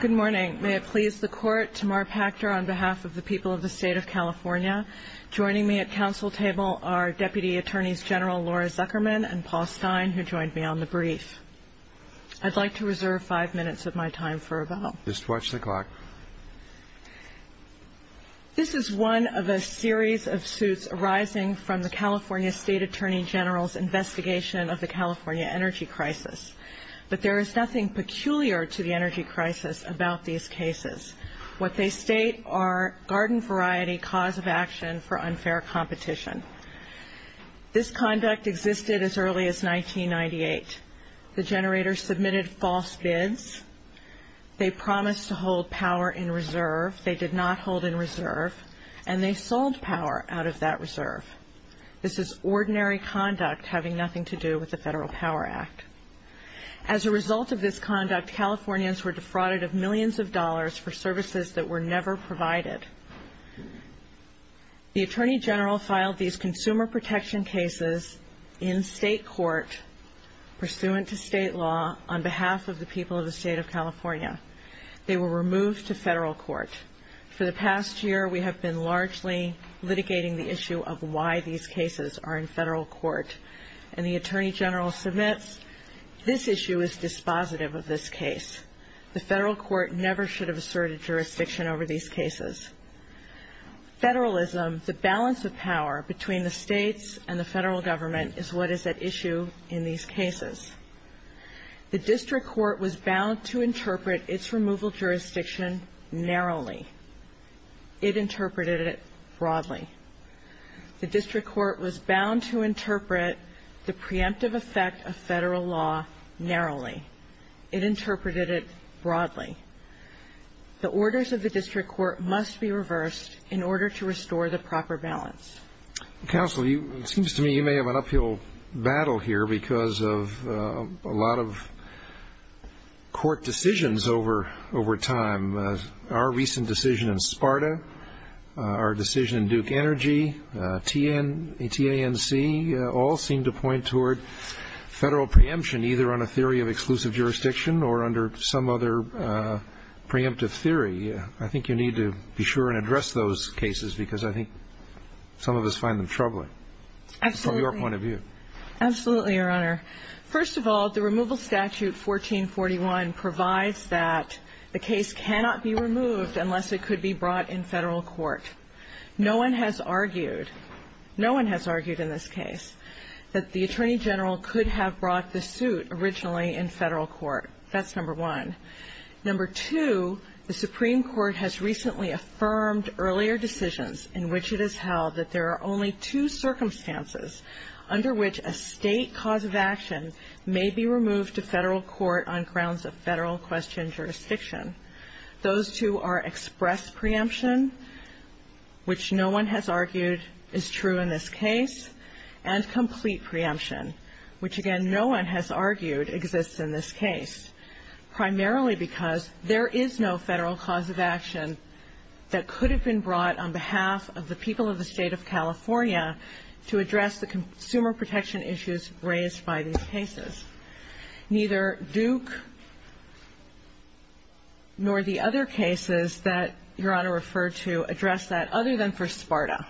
Good morning. May it please the court, Tamar Pachter on behalf of the people of the state of California. Joining me at council table are Deputy Attorneys General Laura Zuckerman and Paul Stein who joined me on the brief. I'd like to reserve five minutes of my time for rebuttal. Just watch the clock. This is one of a series of suits arising from the California State Attorney General's investigation of the California energy crisis. But there is nothing peculiar to the energy crisis about these cases. What they state are garden variety cause of action for unfair competition. This conduct existed as early as 1998. The generators submitted false bids. They promised to hold power in reserve. They did not hold in reserve. And they sold power out of that As a result of this conduct, Californians were defrauded of millions of dollars for services that were never provided. The Attorney General filed these consumer protection cases in state court pursuant to state law on behalf of the people of the state of California. They were removed to federal court. For the past year, we have been largely litigating the issue of why these cases are removed from federal court. And the Attorney General submits, this issue is dispositive of this case. The federal court never should have asserted jurisdiction over these cases. Federalism, the balance of power between the states and the federal government, is what is at issue in these cases. The district court was bound to interpret its removal jurisdiction narrowly. It interpreted it broadly. The district court was bound to interpret the preemptive effect of federal law narrowly. It interpreted it broadly. The orders of the district court must be reversed in order to restore the proper balance. Counsel, it seems to me you may have an uphill battle here because of a lot of court decisions over time. Our recent decision in SPARTA, our decision in Duke Energy, TANC, all seem to point toward federal preemption either on a theory of exclusive jurisdiction or under some other preemptive theory. I think you need to be sure and address those cases because I think some of us find them troubling from your point of view. Absolutely, Your Honor. First of all, the removal statute 1441 provides that the case cannot be removed unless it could be brought in federal court. No one has argued, no one has argued in this case that the Attorney General could have brought the suit originally in federal court. That's number one. Number two, the Supreme Court has recently affirmed earlier decisions in which it has held that there are only two circumstances under which a state cause of action may be removed to federal court on grounds of federal question jurisdiction. Those two are express preemption, which no one has argued is true in this case, and complete preemption, which, again, no one has argued exists in this case, primarily because there is no federal cause of action that could have been brought on behalf of the people of the State of California to address the consumer protection issues raised by these cases. Neither Duke nor the other cases that Your Honor referred to address that other than for SPARTA.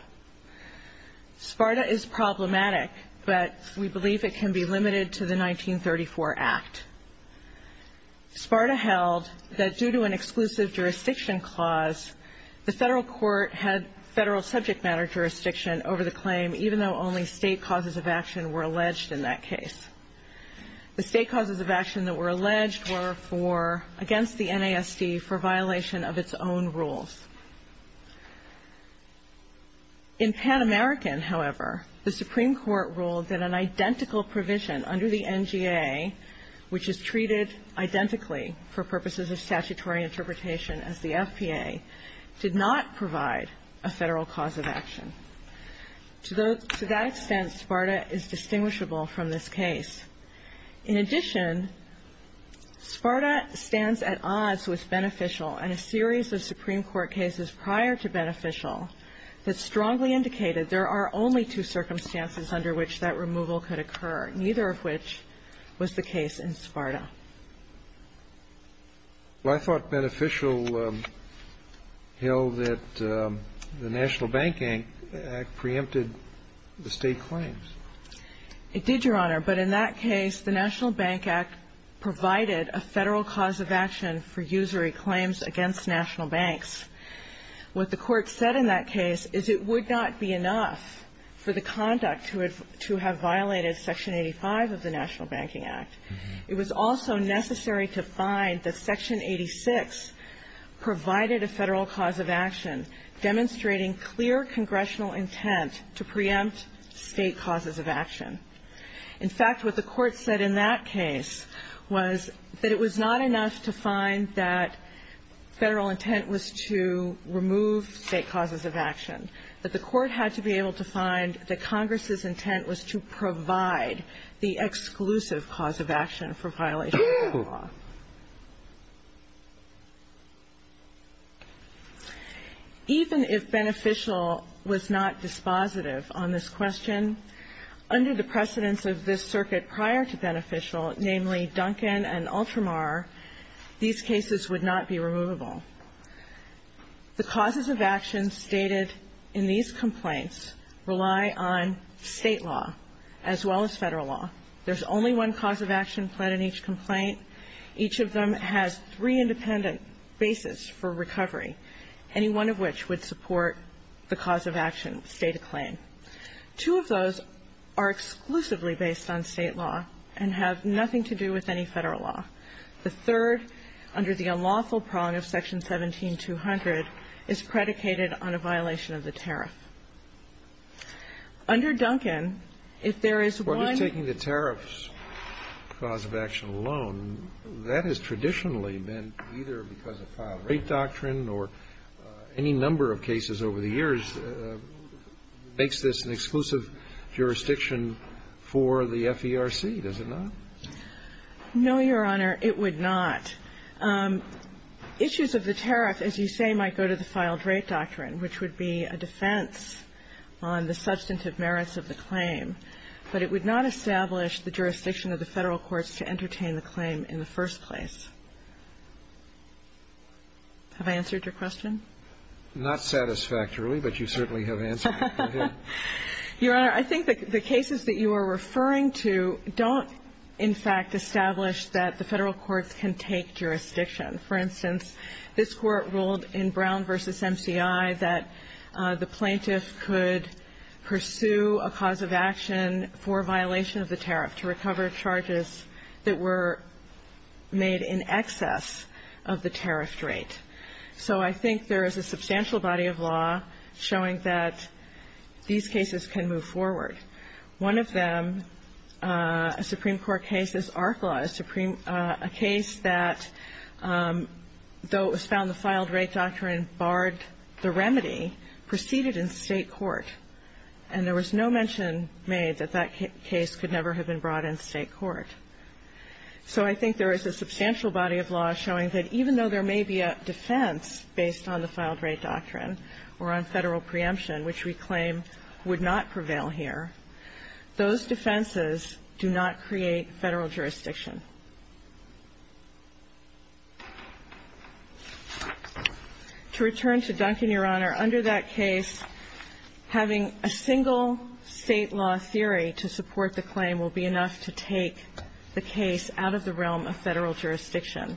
SPARTA is problematic, but we believe it can be limited to the 1934 Act. SPARTA held that due to an exclusive jurisdiction clause, the federal court had federal subject matter jurisdiction over the claim, even though only state causes of action were alleged in that case. The state causes of action that were alleged were for against the NASD for violation of its own rules. In Pan American, however, the Supreme Court ruled that an identical provision under the NGA, which is treated identically for purposes of statutory interpretation as the FPA, did not provide a federal cause of action. To that extent, SPARTA is distinguishable from this case. In addition, SPARTA stands at odds with Beneficial and a series of Supreme Court cases prior to Beneficial that strongly indicated there are only two circumstances under which that removal could occur, neither of which was the case in SPARTA. Well, I thought Beneficial held that the National Banking Act preempted the state claims. It did, Your Honor. But in that case, the National Bank Act provided a federal cause of action for usury claims against national banks. What the Court said in that case is it would not be enough for the conduct to have violated Section 85 of the Act. It was also necessary to find that Section 86 provided a federal cause of action demonstrating clear congressional intent to preempt state causes of action. In fact, what the Court said in that case was that it was not enough to find that federal intent was to remove state causes of action, that the Court had to be able to find that Congress's intent was to provide the exclusive cause of action for violation of state law. Even if Beneficial was not dispositive on this question, under the precedence of this circuit prior to Beneficial, namely Duncan and Ultramar, these cases would not be removable. The causes of action stated in these complaints rely on state law as well as federal law. There's only one cause of action pled in each complaint. Each of them has three independent basis for recovery, any one of which would support the cause of action stated claim. Two of those are exclusively based on state law and have nothing to do with any federal law. The third, under the unlawful prong of Section 17-200, is predicated on a violation of the tariff. Under Duncan, if there is one ---- What is taking the tariffs cause of action alone? That has traditionally been either because of filed-rate doctrine or any number of cases over the years makes this an exclusive jurisdiction for the FERC, does it not? No, Your Honor, it would not. Issues of the tariff, as you say, might go to the filed-rate doctrine, which would be a defense on the substantive merits of the claim, but it would not establish the jurisdiction of the federal courts to entertain the claim in the first place. Have I answered your question? Not satisfactorily, but you certainly have answered it. Your Honor, I think the cases that you are referring to don't, in fact, establish that the federal courts can take jurisdiction. For instance, this Court ruled in Brown v. MCI that the plaintiff could pursue a cause of action for violation of the tariff to recover charges that were made in excess of the tariff rate. So I think there is a substantial body of law showing that these cases can move forward. One of them, a Supreme Court case, this ARC law, a case that, though it was found the filed-rate doctrine barred the remedy, proceeded in State court, and there was no mention made that that case could never have been brought in State court. So I think there is a substantial body of law showing that even though there may be a defense based on the filed-rate doctrine or on federal preemption, which we claim would not prevail here, those defenses do not create federal jurisdiction. To return to Duncan, Your Honor, under that case, having a single State law theory to support the claim will be enough to take the case out of the realm of federal jurisdiction.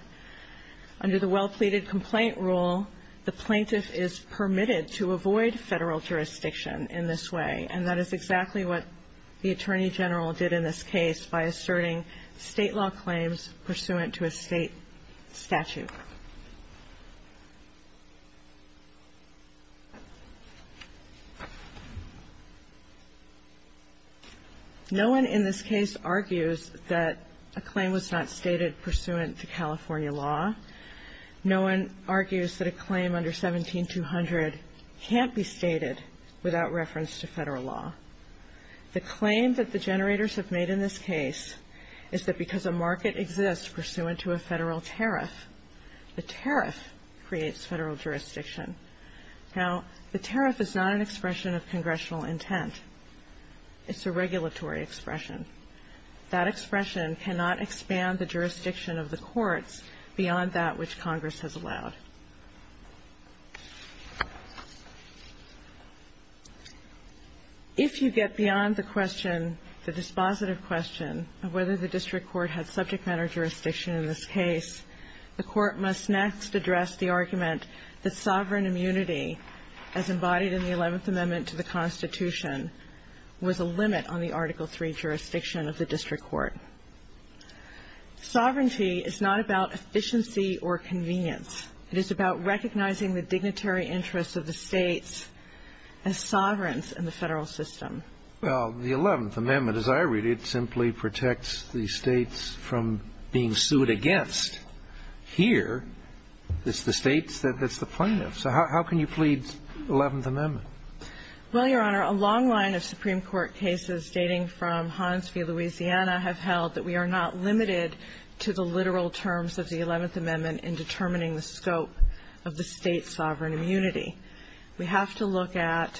Under the well-pleaded complaint rule, the plaintiff is permitted to avoid federal jurisdiction in this way, and that is exactly what the Attorney General did in this case by asserting State law claims pursuant to a State statute. No one in this case argues that a claim was not stated pursuant to California law. No one argues that a claim under 17-200 can't be stated without reference to federal law. The claim that the generators have made in this case is that because a market exists pursuant to a federal tariff, the tariff creates federal jurisdiction. Now, the tariff is not an expression of congressional intent. It's a regulatory expression. That expression cannot expand the jurisdiction of the courts beyond that which Congress has allowed. If you get beyond the question, the dispositive question of whether the district court had subject matter jurisdiction in this case, the Court must next address the argument that sovereign immunity, as embodied in the Eleventh Amendment to the Constitution, was a limit on the Article III jurisdiction of the district court. Sovereignty is not about efficiency or convenience. It is about recognizing the dignitary interests of the States as sovereigns in the federal system. Well, the Eleventh Amendment, as I read it, simply protects the States from being sued against. Here, it's the States that's the plaintiff. So how can you plead Eleventh Amendment? Well, Your Honor, a long line of Supreme Court cases dating from Hansby, Louisiana, have held that we are not limited to the literal terms of the Eleventh Amendment in determining the scope of the State's sovereign immunity. We have to look at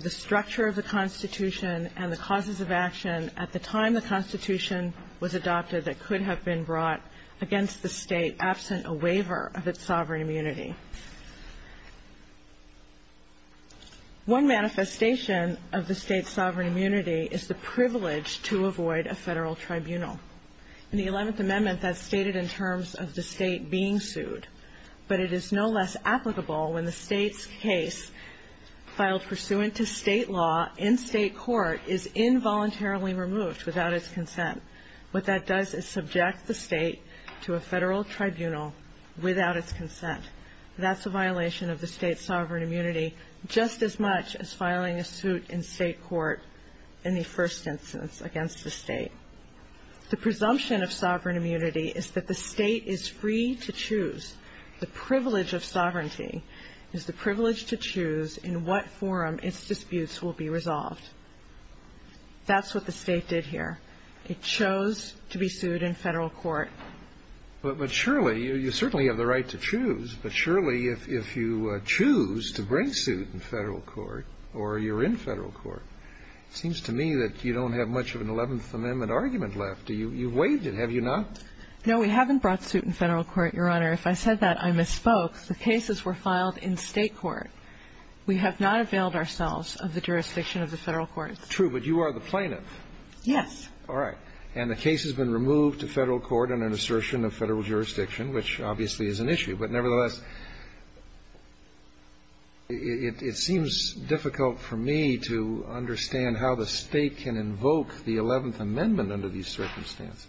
the structure of the Constitution and the causes of action at the time the Constitution was adopted that could have been brought against the State absent a waiver of its sovereign immunity. One manifestation of the State's sovereign immunity is the privilege to avoid a federal tribunal. In the Eleventh Amendment, that's stated in terms of the State being sued. But it is no less applicable when the State's case, filed pursuant to State law in State court, is involuntarily removed without its consent. What that does is subject the State to the presumption of sovereign immunity. The presumption of sovereign immunity is that the State is free to choose. The privilege of sovereignty is the privilege to choose in what forum its disputes will be resolved. That's what the State did here. It chose to be sued in federal court. But surely, you certainly have the right to choose, but surely if you choose to bring suit in federal court or you're in federal court, it seems to me that you don't have much of an Eleventh Amendment argument left. You've waived it, have you not? No, we haven't brought suit in federal court, Your Honor. If I said that, I misspoke. The cases were filed in State court. We have not availed ourselves of the jurisdiction of the federal court. True, but you are the plaintiff. Yes. All right. And the case has been removed to federal court under an assertion of federal jurisdiction, which obviously is an issue. But nevertheless, it seems difficult for me to understand how the State can invoke the Eleventh Amendment under these circumstances.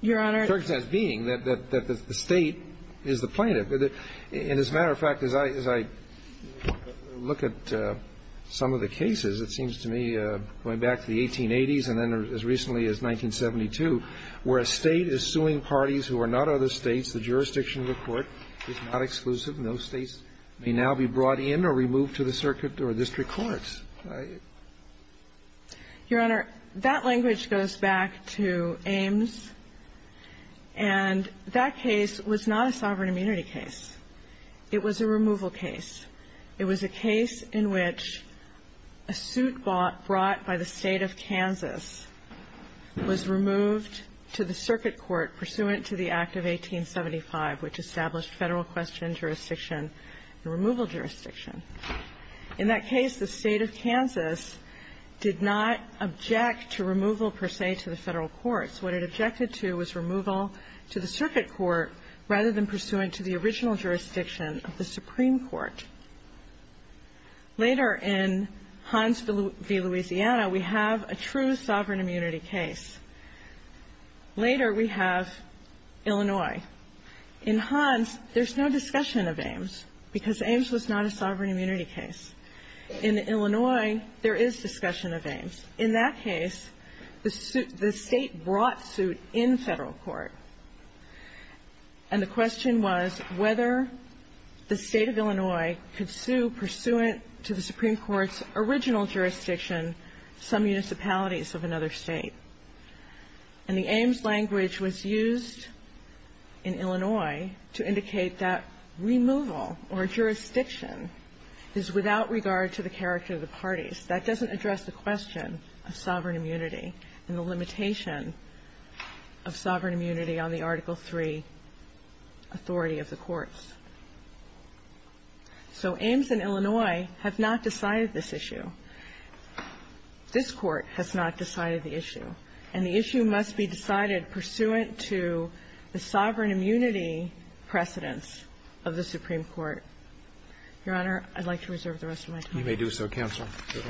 Your Honor. Circumstances being that the State is the plaintiff. And as a matter of fact, as I look at some of the cases, it seems to me, going back to the 1880s and then as recently as 1972, where a State is suing parties who are not other States, the jurisdiction of the court is not exclusive, and those States may now be brought in or removed to the circuit or district courts. Your Honor, that language goes back to Ames. And that case was not a sovereign case in which a suit brought by the State of Kansas was removed to the circuit court pursuant to the Act of 1875, which established federal question jurisdiction and removal jurisdiction. In that case, the State of Kansas did not object to removal, per se, to the federal courts. What it objected to was removal to the circuit court rather than pursuant to the original jurisdiction of the Supreme Court. Later in Hans v. Louisiana, we have a true sovereign immunity case. Later we have Illinois. In Hans, there's no discussion of Ames because Ames was not a sovereign immunity case. In Illinois, there is discussion of Ames. In that case, the State brought suit in federal court, and the question was whether the State of Illinois could sue pursuant to the Supreme Court's original jurisdiction some municipalities of another State. And the Ames language was used in Illinois to indicate that removal or jurisdiction is without regard to the character of the parties. That doesn't address the question of sovereign immunity and the limitation of sovereign immunity on the Article III authority of the courts. So Ames and Illinois have not decided this issue. This Court has not decided the issue. And the issue must be decided pursuant to the sovereign immunity precedence of the Supreme Court. Your Honor, I'd like to reserve the rest of my time. Roberts. You may do so, counsel. Mr.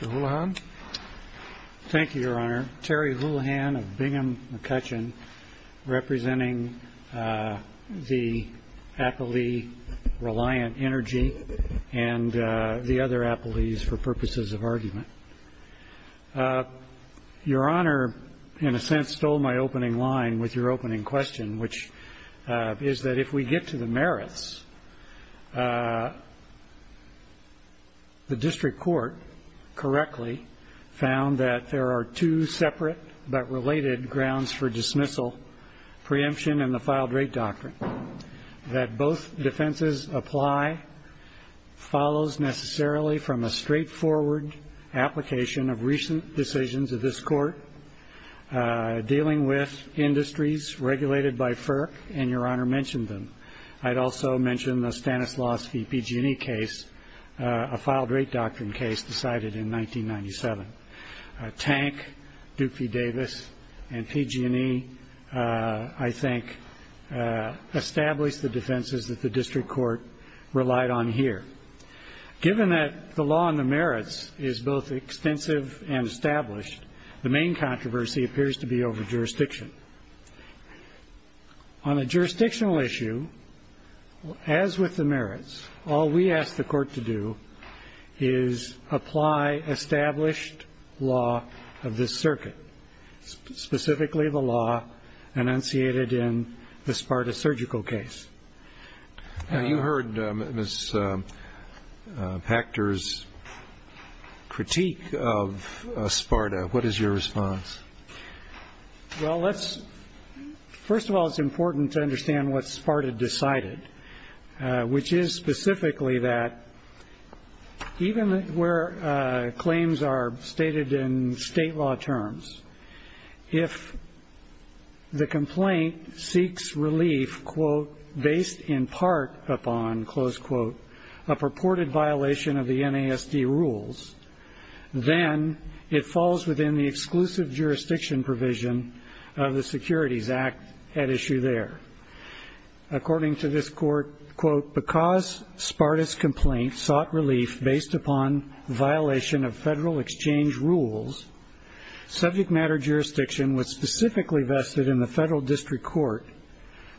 Houlihan. Thank you, Your Honor. Terry Houlihan of Bingham McCutcheon, representing the appellee Reliant Energy and the other appellees for purposes of argument. Your Honor, in a sense, stole my opening line with your opening question, which is that if we get to the merits, the merits of the merits of the merits of the merits of the MRC and the MRC, the after the sentence, even in the original conditions, there is omission. However, the District Court correctly found that there are two separate but related grounds for dismissal, preemption and the filed rate doctrine. That both defenses apply and follow necessarily from the straight forward application of recent decisions of this Court dealing with industries and the filed rate doctrine case decided in 1997. Tank, Duffy Davis and PG&E, I think, established the defenses that the District Court relied on here. Given that the law and the merits is both extensive and established, the main controversy appears to be over jurisdiction. On a jurisdictional issue, as with the merits, all we ask the Court to do is apply established law of this circuit, specifically the law enunciated in the Sparta surgical case. Now, you heard Ms. Pachter's critique of Sparta. What is your response? Well, let's, first of all, it's important to understand what Sparta decided, which is specifically that even where claims are stated in state law terms, if the complaint seeks relief, quote, based in part upon, close quote, a purported violation of the NASD rules, then it falls within the exclusive jurisdiction provision of the Securities Act at issue there. According to this Court, quote, because Sparta's complaint sought relief based upon violation of federal exchange rules, subject matter jurisdiction was specifically vested in the Federal District Court,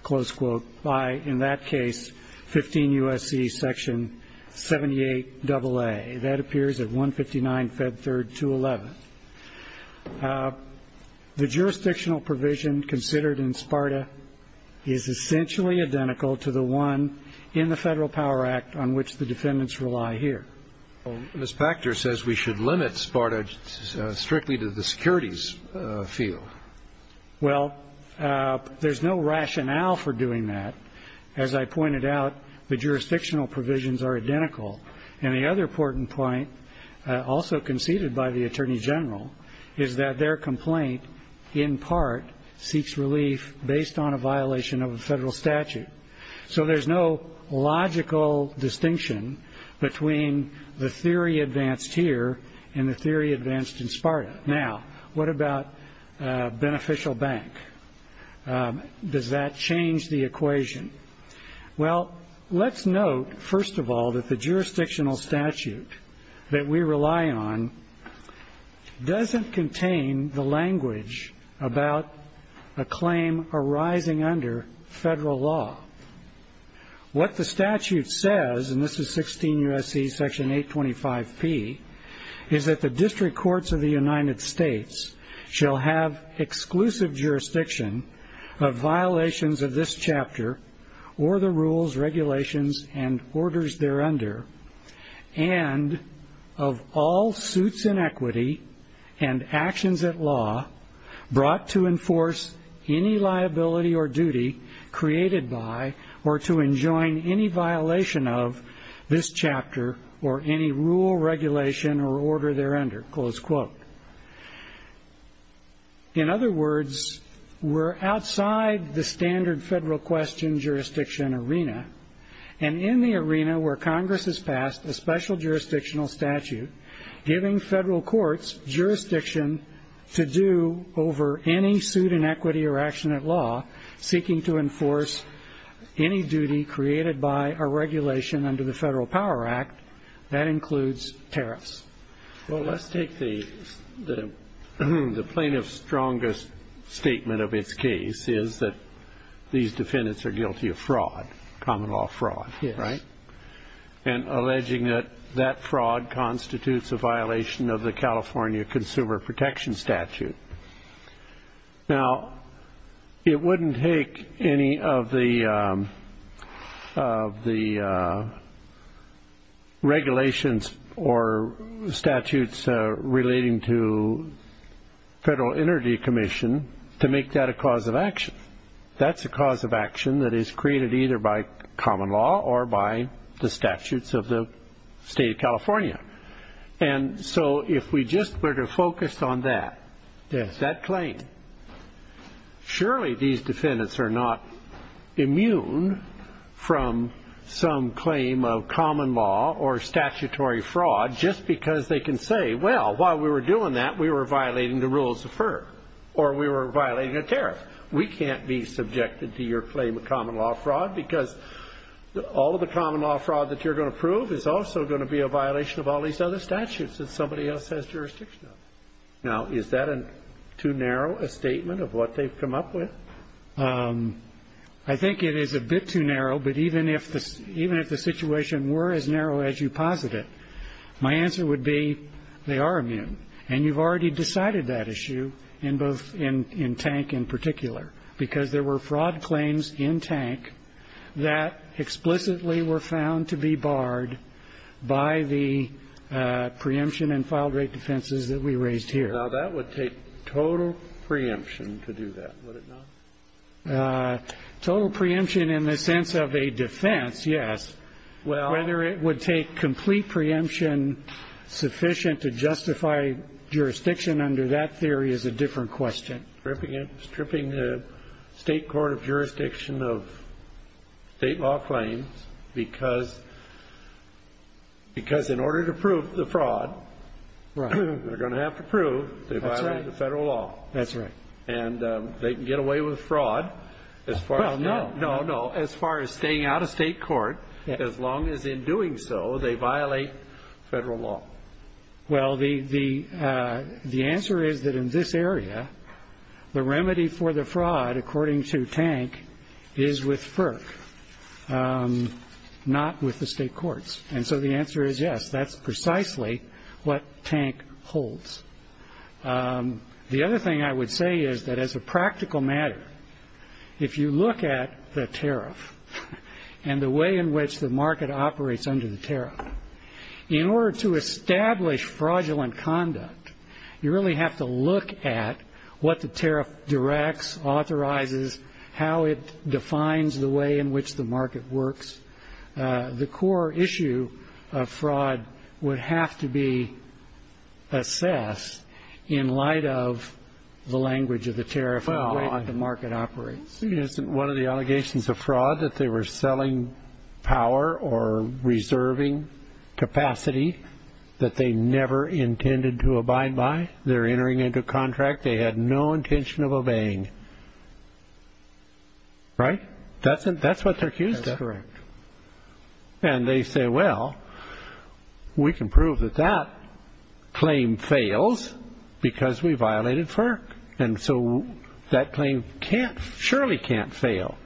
close quote, by, in that case, 15 U.S.C. Section 78 AA. That appears at 159 Fed 3rd, 211. The jurisdictional provision considered in this case is essentially identical to the one in the Federal Power Act on which the defendants rely here. Ms. Pachter says we should limit Sparta strictly to the securities field. Well, there's no rationale for doing that. As I pointed out, the jurisdictional provisions are identical. And the other important point, also conceded by the Attorney General, is that their complaint, in part, seeks relief based on a violation of a federal statute. So there's no logical distinction between the theory advanced here and the theory advanced in Sparta. Now, what about beneficial bank? Does that change the equation? Well, let's note, first of all, that the jurisdictional statute that we rely on is not does not contain the language about a claim arising under federal law. What the statute says, and this is 16 U.S.C. Section 825P, is that the District Courts of the United States shall have exclusive jurisdiction of violations of this chapter or the rules, regulations, and orders thereunder and of all suits in equity and actions at law brought to enforce any liability or duty created by or to enjoin any violation of this chapter or any rule, regulation, or order thereunder, close quote. In other words, we're outside the standard federal question jurisdiction arena, and in the arena we're Congress has passed a special jurisdictional statute giving federal courts jurisdiction to do over any suit in equity or action at law seeking to enforce any duty created by a regulation under the Federal Power Act. That includes tariffs. Well, let's take the plaintiff's strongest statement of its case is that these defendants are guilty of fraud, common law fraud, right? And alleging that that fraud constitutes a violation of the California Consumer Protection Statute. Now, it wouldn't take any of the regulations or statutes relating to Federal Energy Commission to make that a cause of action. That's a cause of action that is created either by common law or by the statutes of the state of California. And so if we just were to focus on that, that claim, surely these defendants are not immune from some claim of common law or statutory fraud just because they can say, well, while we were doing that, we were violating the rules of FERC, or we were violating a tariff. We can't be subjected to your claim of common law fraud because all of the common law fraud that you're going to prove is also going to be a violation of all these other statutes that somebody else has jurisdiction of. Now, is that too narrow a statement of what they've come up with? I think it is a bit too narrow, but even if the situation were as narrow as you posit it, my answer would be they are immune. And you've already decided that issue in both in Tank in particular, because there were fraud claims in Tank that explicitly were found to be barred by the preemption and filed rate defenses that we raised here. Now, that would take total preemption to do that, would it not? Total preemption in the sense of a defense, yes. Whether it would take complete preemption sufficient to justify jurisdiction under that theory is a different question. Stripping the state court of jurisdiction of state law claims, because in order to prove the fraud, they're going to have to prove they violated the federal law. And they can get away with fraud as far as staying out of state court. As long as in doing so, they violate federal law. Well, the answer is that in this area, the remedy for the fraud according to Tank is with FERC, not with the state courts. And so the answer is yes, that's precisely what Tank holds. The other thing I would say is that as a practical matter, if you look at the tariff and the way in which the bar is set up, the way in which the bar is set up, the way in which the market operates under the tariff, in order to establish fraudulent conduct, you really have to look at what the tariff directs, authorizes, how it defines the way in which the market works. The core issue of fraud would have to be assessed in light of the language of the tariff and the way that the market operates. Isn't one of the allegations of fraud that they were selling power or reserving capacity that they never intended to abide by? They're entering into a contract they had no intention of obeying. Right? That's what they're accused of. And they say, well, we can prove that that claim fails because we violated FERC. And so that claim can't, surely can't fail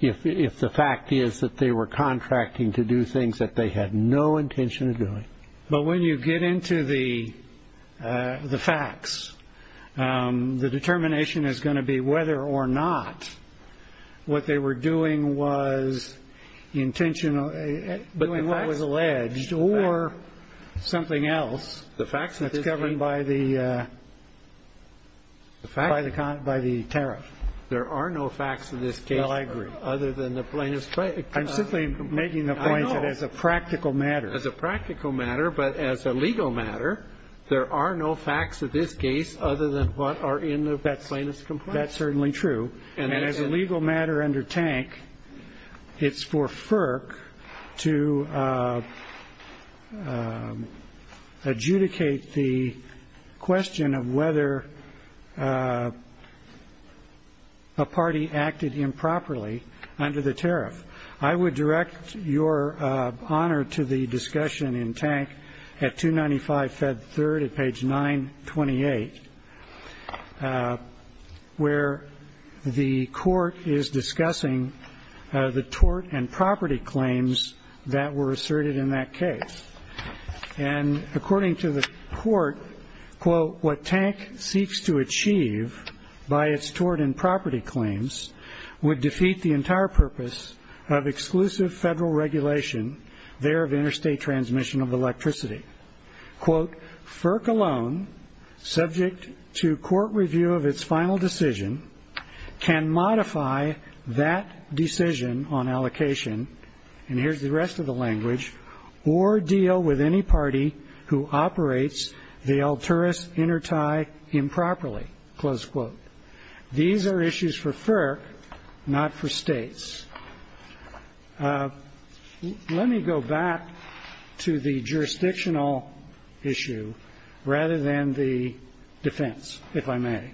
if the fact is that they were contracting to do things that they had no intention of doing. But when you get into the facts, the determination is going to be whether or not what they were doing was intentional, doing what was alleged or something else. That's governed by the tariff. There are no facts in this case other than the plaintiff's claim. I'm simply making the point that as a practical matter. As a practical matter, but as a legal matter, there are no facts of this case other than what are in the plaintiff's complaint. That's certainly true. And as a legal matter under Tank, it's for FERC to adjudicate the question of whether a party acted improperly under the tariff. I would direct your honor to the discussion in Tank at 295 Fed 3rd at page 928, where the plaintiff's claim is that the plaintiff had no intention of doing things that they had no intention of doing under the tariff. And the court is discussing the tort and property claims that were asserted in that case. And according to the court, quote, what Tank seeks to achieve by its tort and property claims would defeat the entire purpose of exclusive federal regulation there of interstate transmission of electricity. Quote, FERC alone, subject to court review of its final decision, can modify that decision on allocation, and here's the rest of the language, or deal with any party who operates the altruist intertie improperly, close quote. These are issues for FERC, not for states. Let me go back to the jurisdictional issue, rather than the defense, if I may.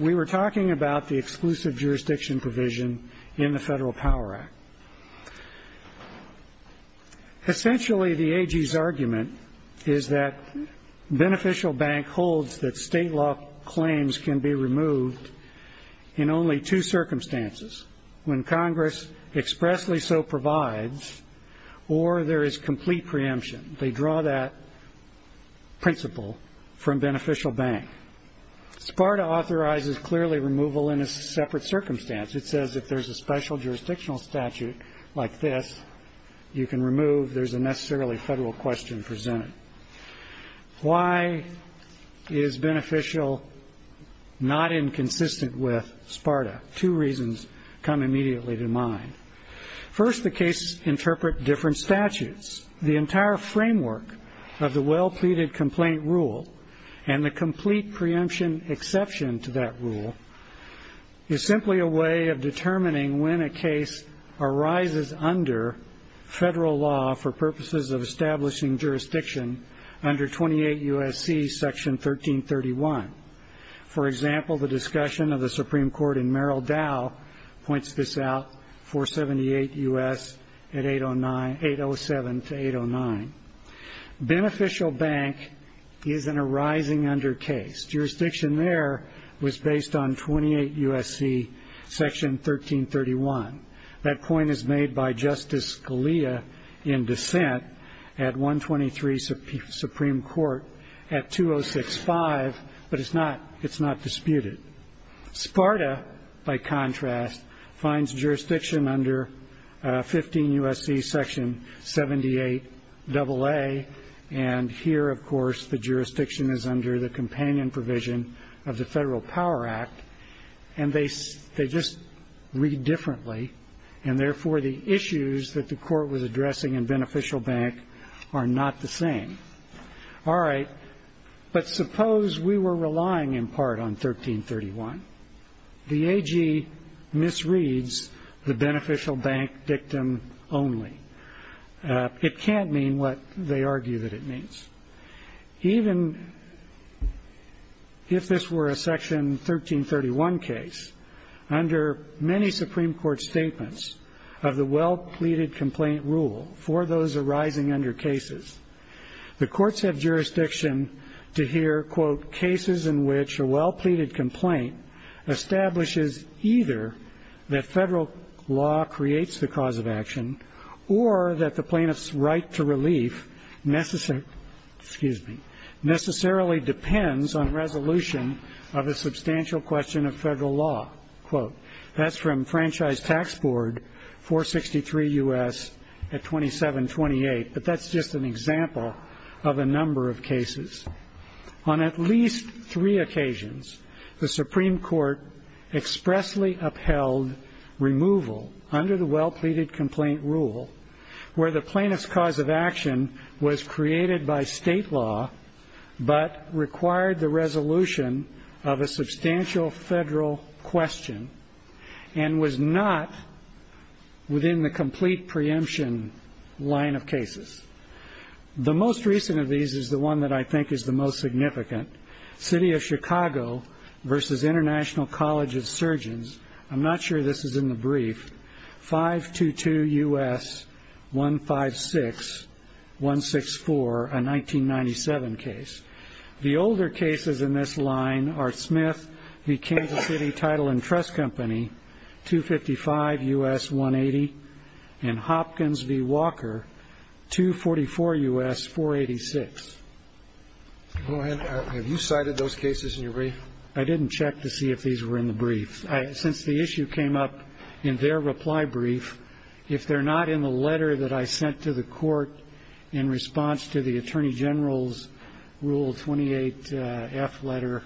We were talking about the exclusive jurisdiction provision in the Federal Power Act. Essentially, the AG's argument is that Beneficial Bank holds that state law claims can be removed in only two circumstances. When Congress expressly so provides, or there is complete preemption. They draw that principle from Beneficial Bank. SPARTA authorizes clearly removal in a separate circumstance. It says if there's a special jurisdictional statute like this, you can remove, there's a necessarily federal question presented. Why is Beneficial not inconsistent with SPARTA? Two reasons come immediately to mind. First, the cases interpret different statutes. The entire framework of the well pleaded complaint rule, and the complete preemption exception to that rule, is simply a way of determining when a case arises under federal law for purposes of establishing jurisdiction under 28 U.S.C. section 1331. For example, the discussion of the Supreme Court in Merrill Dow points this out, 478 U.S. at 807 to 809. Beneficial Bank is an arising under case. Jurisdiction there was based on 28 U.S.C. section 1331. That point is made by Justice Scalia in dissent at 123 Supreme Court at 2065, but it's not a case that's been brought to the Supreme Court. It's not disputed. SPARTA, by contrast, finds jurisdiction under 15 U.S.C. section 78 AA, and here, of course, the jurisdiction is under the companion provision of the Federal Power Act. And they just read differently, and therefore the issues that the Court was addressing in Beneficial Bank are not the same. All right, but suppose we were relying in part on 1331. The AG misreads the Beneficial Bank dictum only. It can't mean what they argue that it means. Even if this were a section 1331 case, under many Supreme Court statements of the well-pleaded complaint rule for those arising under cases, the Courts have jurisdiction to hear, quote, cases in which a well-pleaded complaint establishes either that Federal law creates the cause of action, or that the plaintiff's right to relief necessarily depends on resolution of a substantial question of Federal law, quote. That's from Franchise Tax Board 463 U.S. at 2728. But that's just an example of a number of cases. On at least three occasions, the Supreme Court expressly upheld removal under the well-pleaded complaint rule, where the plaintiff's cause of action was created by State law, but required the resolution of a substantial Federal question, and was not within the complete preemption line of cases. The most recent of these is the one that I think is the most significant. City of Chicago v. International College of Surgeons, I'm not sure this is in the brief, 522 U.S. 156-164, a 1997 case. The older cases in this line are Smith v. Kansas City Title and Trust Company, 255 U.S. 180, and Hopkins v. Walker, 244 U.S. 486. Go ahead. Have you cited those cases in your brief? I didn't check to see if these were in the brief. Since the issue came up in their reply brief, if they're not in the letter that I sent to the Court in response to the Attorney General's Rule 28-F letter,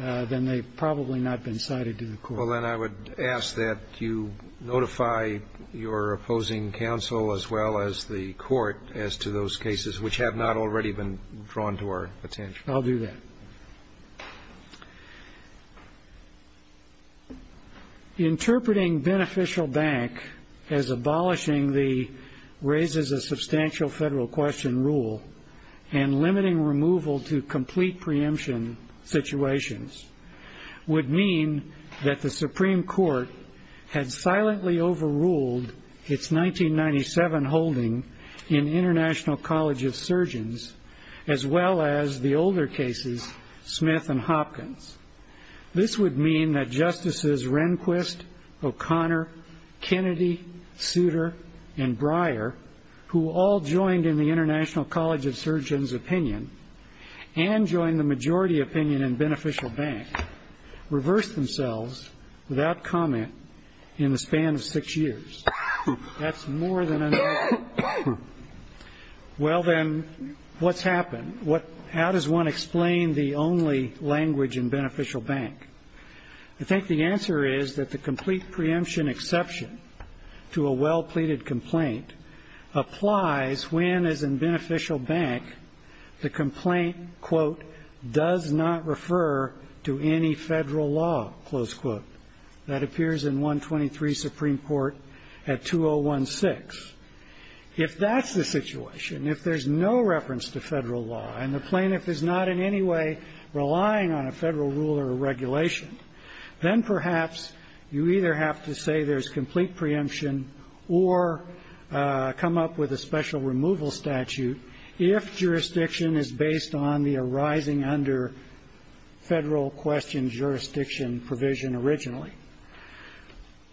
then they've probably not been cited to the Court. Well, then I would ask that you notify your opposing counsel, as well as the Court, as to those cases which have not already been drawn to our attention. I'll do that. Interpreting beneficial bank as abolishing the raises a substantial Federal question rule, and limiting removal to complete preemption situations, would mean that the Supreme Court had silently overruled its 1997 holding in International College of Surgeons, as well as the older cases, Smith and Hopkins. This would mean that Justices Rehnquist, O'Connor, Kennedy, Souter, and Breyer, who all joined in the International College of Surgeons' opinion, and joined the majority opinion in beneficial bank, reversed themselves without comment in the span of six years. That's more than enough. Well, then, what's happened? How does one explain the only language in beneficial bank? I think the answer is that the complete preemption exception to a well-pleaded complaint applies when, as in beneficial bank, the current language is that the complaint, quote, does not refer to any Federal law, close quote. That appears in 123 Supreme Court at 2016. If that's the situation, if there's no reference to Federal law, and the plaintiff is not in any way relying on a Federal rule or regulation, then perhaps you either have to say there's complete preemption, or come up with a special removal statute, if jurisdiction is based on the arising under Federal question jurisdiction provision originally.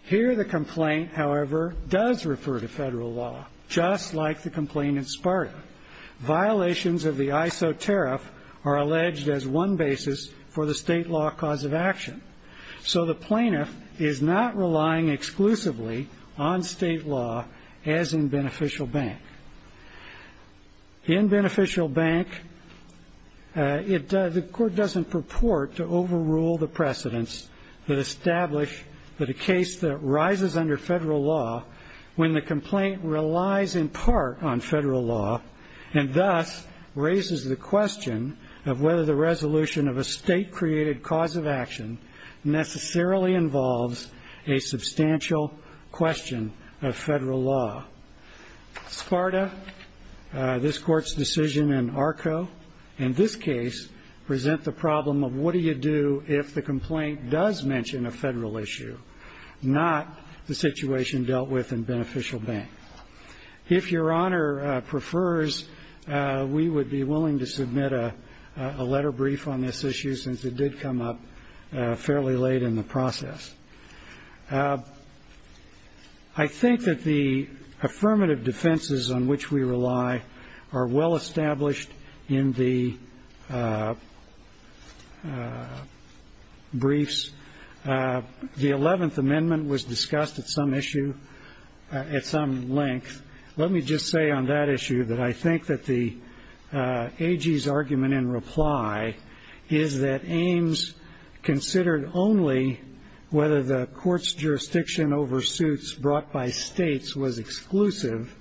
Here the complaint, however, does refer to Federal law, just like the complaint in Sparta. Violations of the ISO tariff are alleged as one basis for the State law cause of action. So the plaintiff is not relying exclusively on State law, as in beneficial bank. In beneficial bank, the Court doesn't purport to overrule the precedence that establish that a case that rises under Federal law, when the complaint relies in part on Federal law, and thus raises the question of whether the resolution of a State created cause of action necessarily involves a substantial question of Federal law. Sparta, this Court's decision in ARCO, in this case, present the problem of what do you do if the complaint does mention a Federal issue, not the situation dealt with in beneficial bank. If Your Honor prefers, we would be willing to submit a letter brief on this issue, since it did come up fairly late in the process. I think that the affirmative defenses on which we rely are well established in the briefs. The 11th Amendment was discussed at some issue, at some length. Let me just say on that issue that I think that the AG's argument in reply is that Ames considered only whether the complaint does mention a Federal issue. That is, whether the Court's jurisdiction over suits brought by States was exclusive,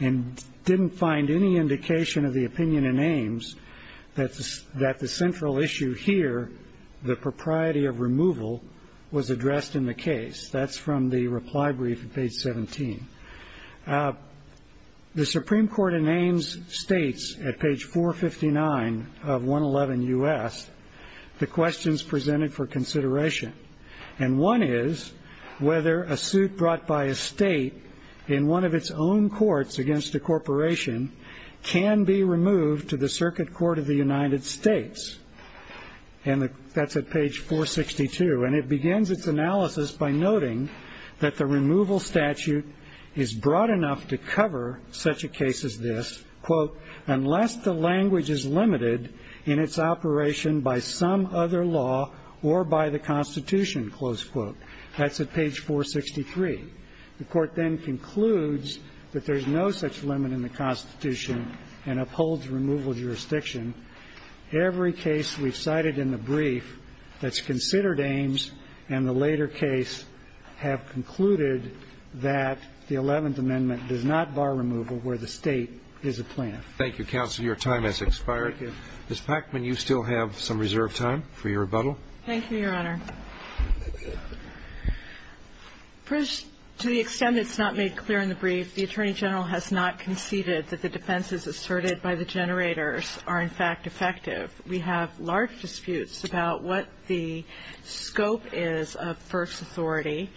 and didn't find any indication of the opinion in Ames that the central issue here, the propriety of removal, was addressed in the case. That's from the reply brief at page 17. The Supreme Court in Ames states at page 459 of 111 U.S., the questions presented for consideration. One is whether a suit brought by a State in one of its own courts against a corporation can be removed to the Circuit Court of the United States. And that's at page 462. And it begins its analysis by noting that the removal statute is broad enough to cover such a case as this, quote, unless the language is limited in its operation by some other law or by the Constitution, close quote. That's at page 463. The Court then concludes that there's no such limit in the Constitution and upholds removal jurisdiction. Every case we've cited in the brief that's considered Ames and the later case have concluded that the 11th Amendment does not bar removal where the State is a plaintiff. Thank you, counsel. Thank you. Thank you, Your Honor. First, to the extent it's not made clear in the brief, the Attorney General has not conceded that the defenses asserted by the generators are, in fact, effective. We have large disputes about what the scope is of first authority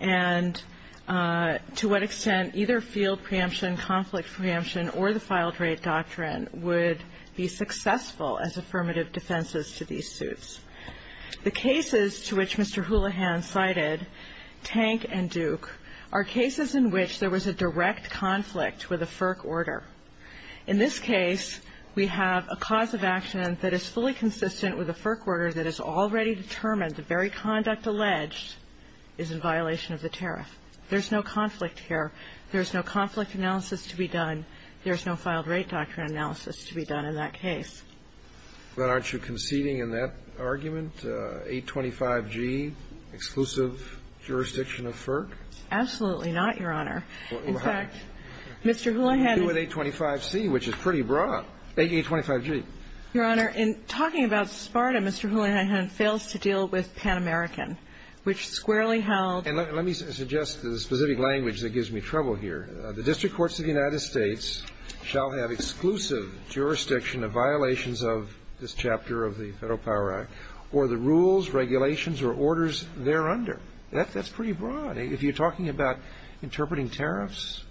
and to what extent either field preemption, conflict preemption, or the filed-rate doctrine. And I think that the Attorney General's position would be successful as affirmative defenses to these suits. The cases to which Mr. Houlihan cited, Tank and Duke, are cases in which there was a direct conflict with a FERC order. In this case, we have a cause of action that is fully consistent with a FERC order that has already determined the very conduct alleged is in violation of the tariff. There's no conflict here. And I think that the Attorney General's position is that there are very good reasons for that process to be done in that case. But aren't you conceding in that argument, 825G, exclusive jurisdiction of FERC? Absolutely not, Your Honor. In fact, Mr. Houlihan is ---- jurisdiction of violations of this chapter of the Federal Power Act, or the rules, regulations, or orders thereunder. That's pretty broad. If you're talking about interpreting tariffs?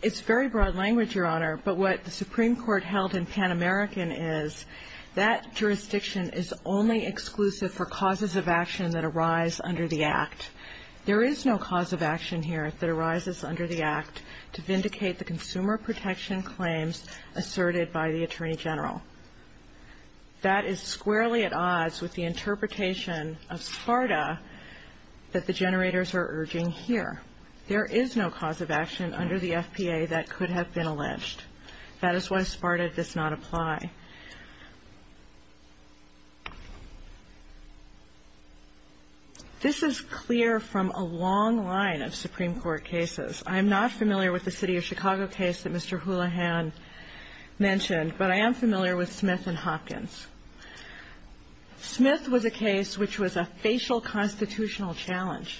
It's very broad language, Your Honor. But what the Supreme Court held in Pan American is that jurisdiction is only exclusive for causes of action that arise under the Act. There is no cause of action here that arises under the Act to vindicate the consumer protection claims asserted by the Attorney General. That is squarely at odds with the interpretation of SPARTA that the generators are urging here. There is no cause of action under the FPA that could have been alleged. That is why SPARTA does not apply. This is clear from a long line of Supreme Court cases. I'm not familiar with the City of Chicago case that Mr. Houlihan mentioned, but I am familiar with Smith and Hopkins. Smith was a case which was a facial constitutional challenge.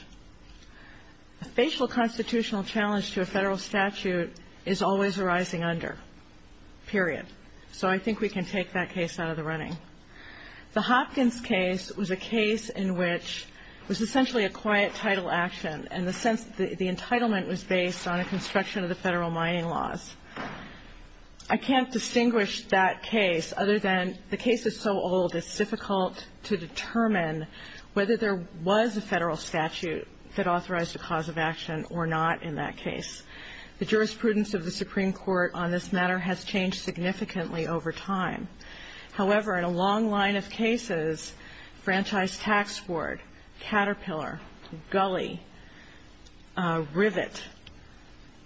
A facial constitutional challenge to a Federal statute is always arising under, period. So I think we can take that case out of the running. The Hopkins case was a case in which it was essentially a quiet title action, in the sense that the entitlement was based on a construction of the Federal mining laws. I can't distinguish that case other than the case is so old, it's difficult to determine whether there was a Federal statute that authorized a cause of action or not in that case. The jurisprudence of the Supreme Court on this matter has changed significantly over time. However, in a long line of cases, Franchise Tax Board, Caterpillar, Gully, Rivet,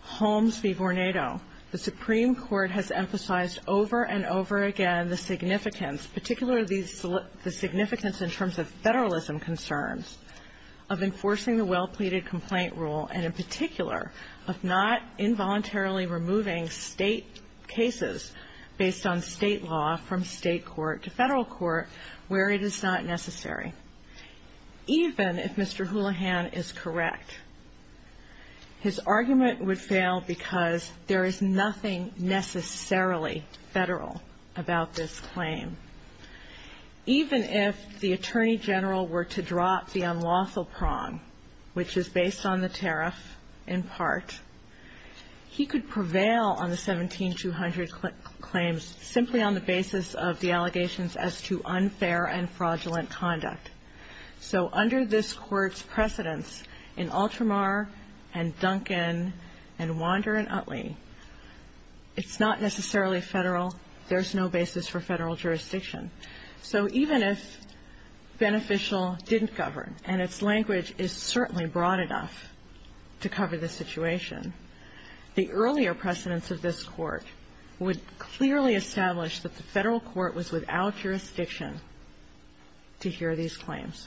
Holmes v. Vornado, the Supreme Court has emphasized over and over again the significance, particularly the significance in terms of Federalism concerns, of enforcing the well-pleaded complaint rule, and in particular, of not involuntarily removing State cases based on State law from State court to Federal court, where it is not necessary. Even if Mr. Houlihan is correct, his argument would fail because there is nothing necessarily Federal about this claim. Even if the Attorney General were to drop the unlawful prong, which is based on the tariff, in part, he could prevail on the 17-200 claims simply on the basis of the allegations as to unfair and fraudulent conduct. So under this Court's precedence in Ultramar and Duncan and Wander and Utley, it's not necessarily Federal. There's no basis for Federal jurisdiction. So even if Beneficial didn't govern, and its language is certainly broad enough to cover the situation, the earlier precedence of this Court would clearly establish that the Federal court was without jurisdiction to hear these claims.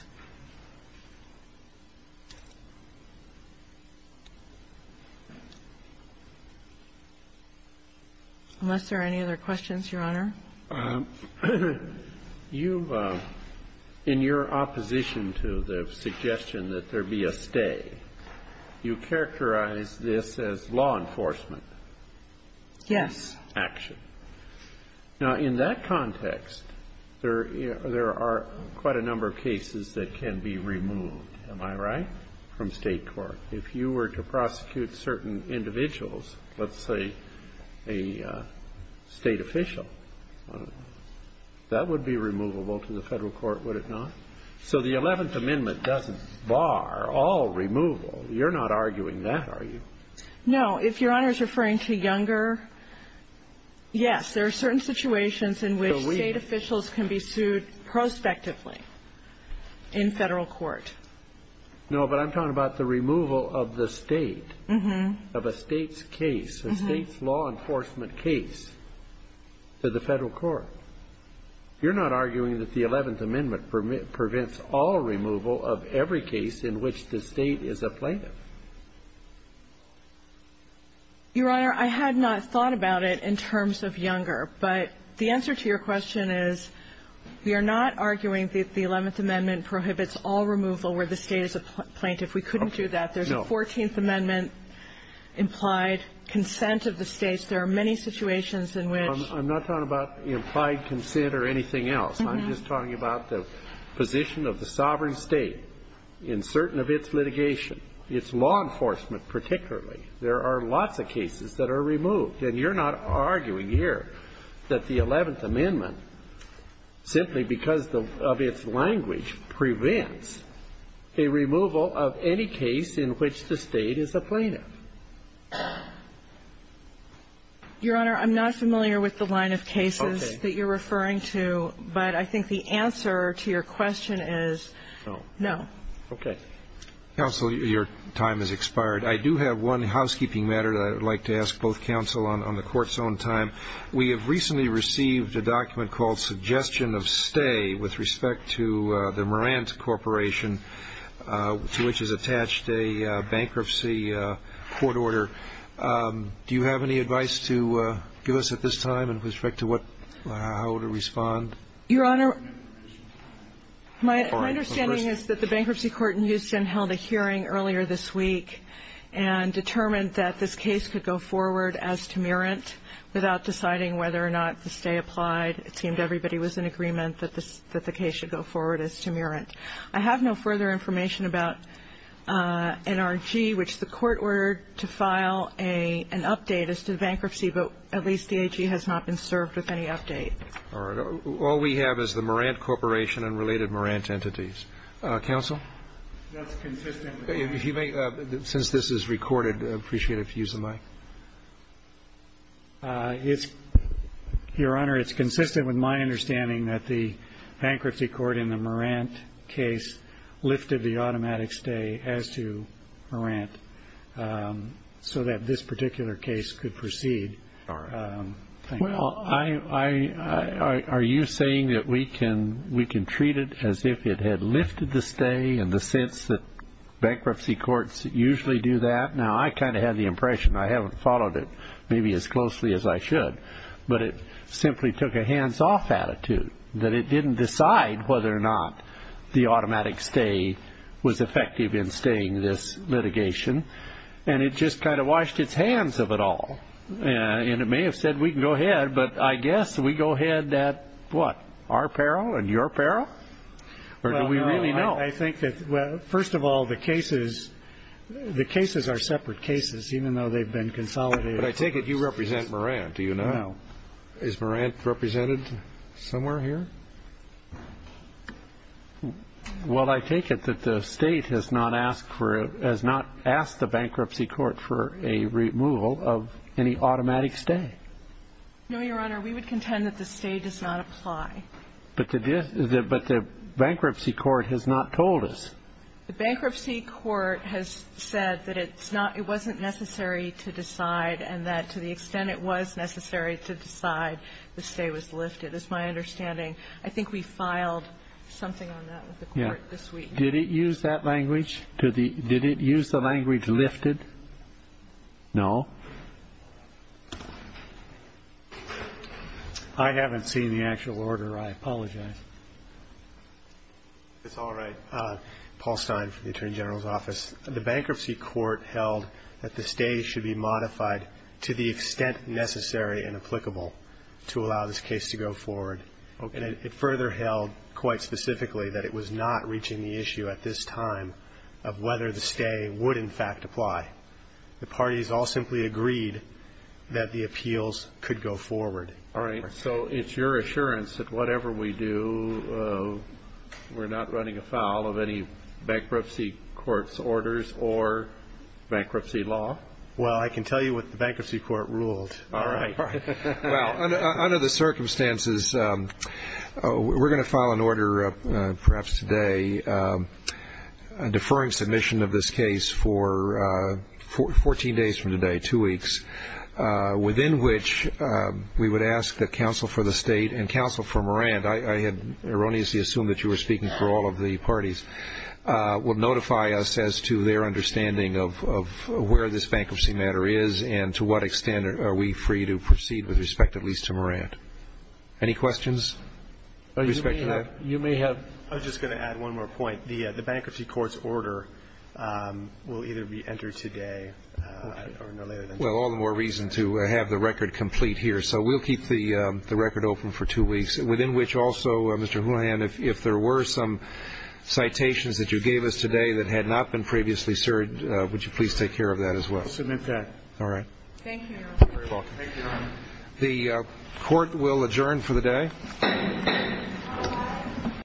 Unless there are any other questions, Your Honor? You, in your opposition to the suggestion that there be a stay, you characterize this as law enforcement action. Yes. Now, in that context, there are quite a number of cases that can be removed, am I right, from State court. If you were to prosecute certain individuals, let's say a State official, that would be removable to the Federal court, would it not? So the Eleventh Amendment doesn't bar all removal. You're not arguing that, are you? No, if Your Honor is referring to younger, yes, there are certain situations in which State officials can be sued prospectively in Federal court. No, but I'm talking about the removal of the State, of a State's case, a State's law enforcement case to the Federal court. You're not arguing that the Eleventh Amendment prevents all removal of every case in which the State is a plaintiff. Your Honor, I had not thought about it in terms of younger, but the answer to your question is, you're not arguing that the Eleventh Amendment prohibits all removal where the State is a plaintiff. We couldn't do that. There's a Fourteenth Amendment implied consent of the States. There are many situations in which. I'm not talking about implied consent or anything else. I'm just talking about the position of the sovereign State in certain of its litigation, its law enforcement particularly. There are lots of cases that are removed. And you're not arguing here that the Eleventh Amendment, simply because of its language, prevents a removal of any case in which the State is a plaintiff. Your Honor, I'm not familiar with the line of cases that you're referring to, but I think the answer to your question is no. Okay. Counsel, your time has expired. I do have one housekeeping matter that I would like to ask both counsel on the Court's own time. We have recently received a document called Suggestion of Stay with respect to the Morant Corporation, to which is attached a bankruptcy court order. Do you have any advice to give us at this time with respect to how to respond? Your Honor, my understanding is that the bankruptcy court in Houston held a hearing earlier this week and determined that this case could go forward as to Morant without deciding whether or not the stay applied. It seemed everybody was in agreement that the case should go forward as to Morant. I have no further information about NRG, which the Court ordered to file an update as to the bankruptcy, but at least the AG has not been served with any update. All right. All we have is the Morant Corporation and related Morant entities. Counsel? That's consistent. If you may, since this is recorded, I'd appreciate it if you use the mic. Your Honor, it's consistent with my understanding that the bankruptcy court in the Morant case lifted the automatic stay as to Morant so that this particular case could proceed. All right. Well, are you saying that we can treat it as if it had lifted the stay in the sense that bankruptcy courts usually do that? Now, I kind of had the impression. I haven't followed it maybe as closely as I should, but it simply took a hands-off attitude that it didn't decide whether or not the automatic stay was effective in staying this litigation, and it just kind of washed its hands of it all. And it may have said we can go ahead, but I guess we go ahead at what? Our peril and your peril? Or do we really know? I think that, well, first of all, the cases are separate cases, even though they've been consolidated. But I take it you represent Morant. Do you not? No. Is Morant represented somewhere here? Well, I take it that the State has not asked for it, has not asked the bankruptcy court for a removal of any automatic stay. No, Your Honor. We would contend that the stay does not apply. But the bankruptcy court has not told us. The bankruptcy court has said that it wasn't necessary to decide and that to the extent it was necessary to decide, the stay was lifted. It's my understanding. I think we filed something on that with the court this week. Did it use that language? Did it use the language lifted? No. I haven't seen the actual order. I apologize. It's all right. Paul Stein from the Attorney General's Office. The bankruptcy court held that the stay should be modified to the extent necessary and applicable to allow this case to go forward. It further held, quite specifically, that it was not reaching the issue at this time of whether the stay would, in fact, apply. The parties all simply agreed that the appeals could go forward. All right. So it's your assurance that whatever we do, we're not running afoul of any bankruptcy court's orders or bankruptcy law? Well, I can tell you what the bankruptcy court ruled. All right. Well, under the circumstances, we're going to file an order, perhaps today, a deferring submission of this case for 14 days from today, two weeks, within which we would ask that counsel for the state and counsel for Moran, I had erroneously assumed that you were speaking for all of the parties, would notify us as to their understanding of where this bankruptcy matter is and to what extent are we free to proceed with respect at least to Moran. Any questions with respect to that? You may have. I was just going to add one more point. The bankruptcy court's order will either be entered today or no later than today. Well, all the more reason to have the record complete here. So we'll keep the record open for two weeks, within which also, Mr. Houhan, if there were some citations that you gave us today that had not been previously served, would you please take care of that as well? I'll submit that. All right. Thank you. You're very welcome. Thank you, Your Honor. The court will adjourn for the day.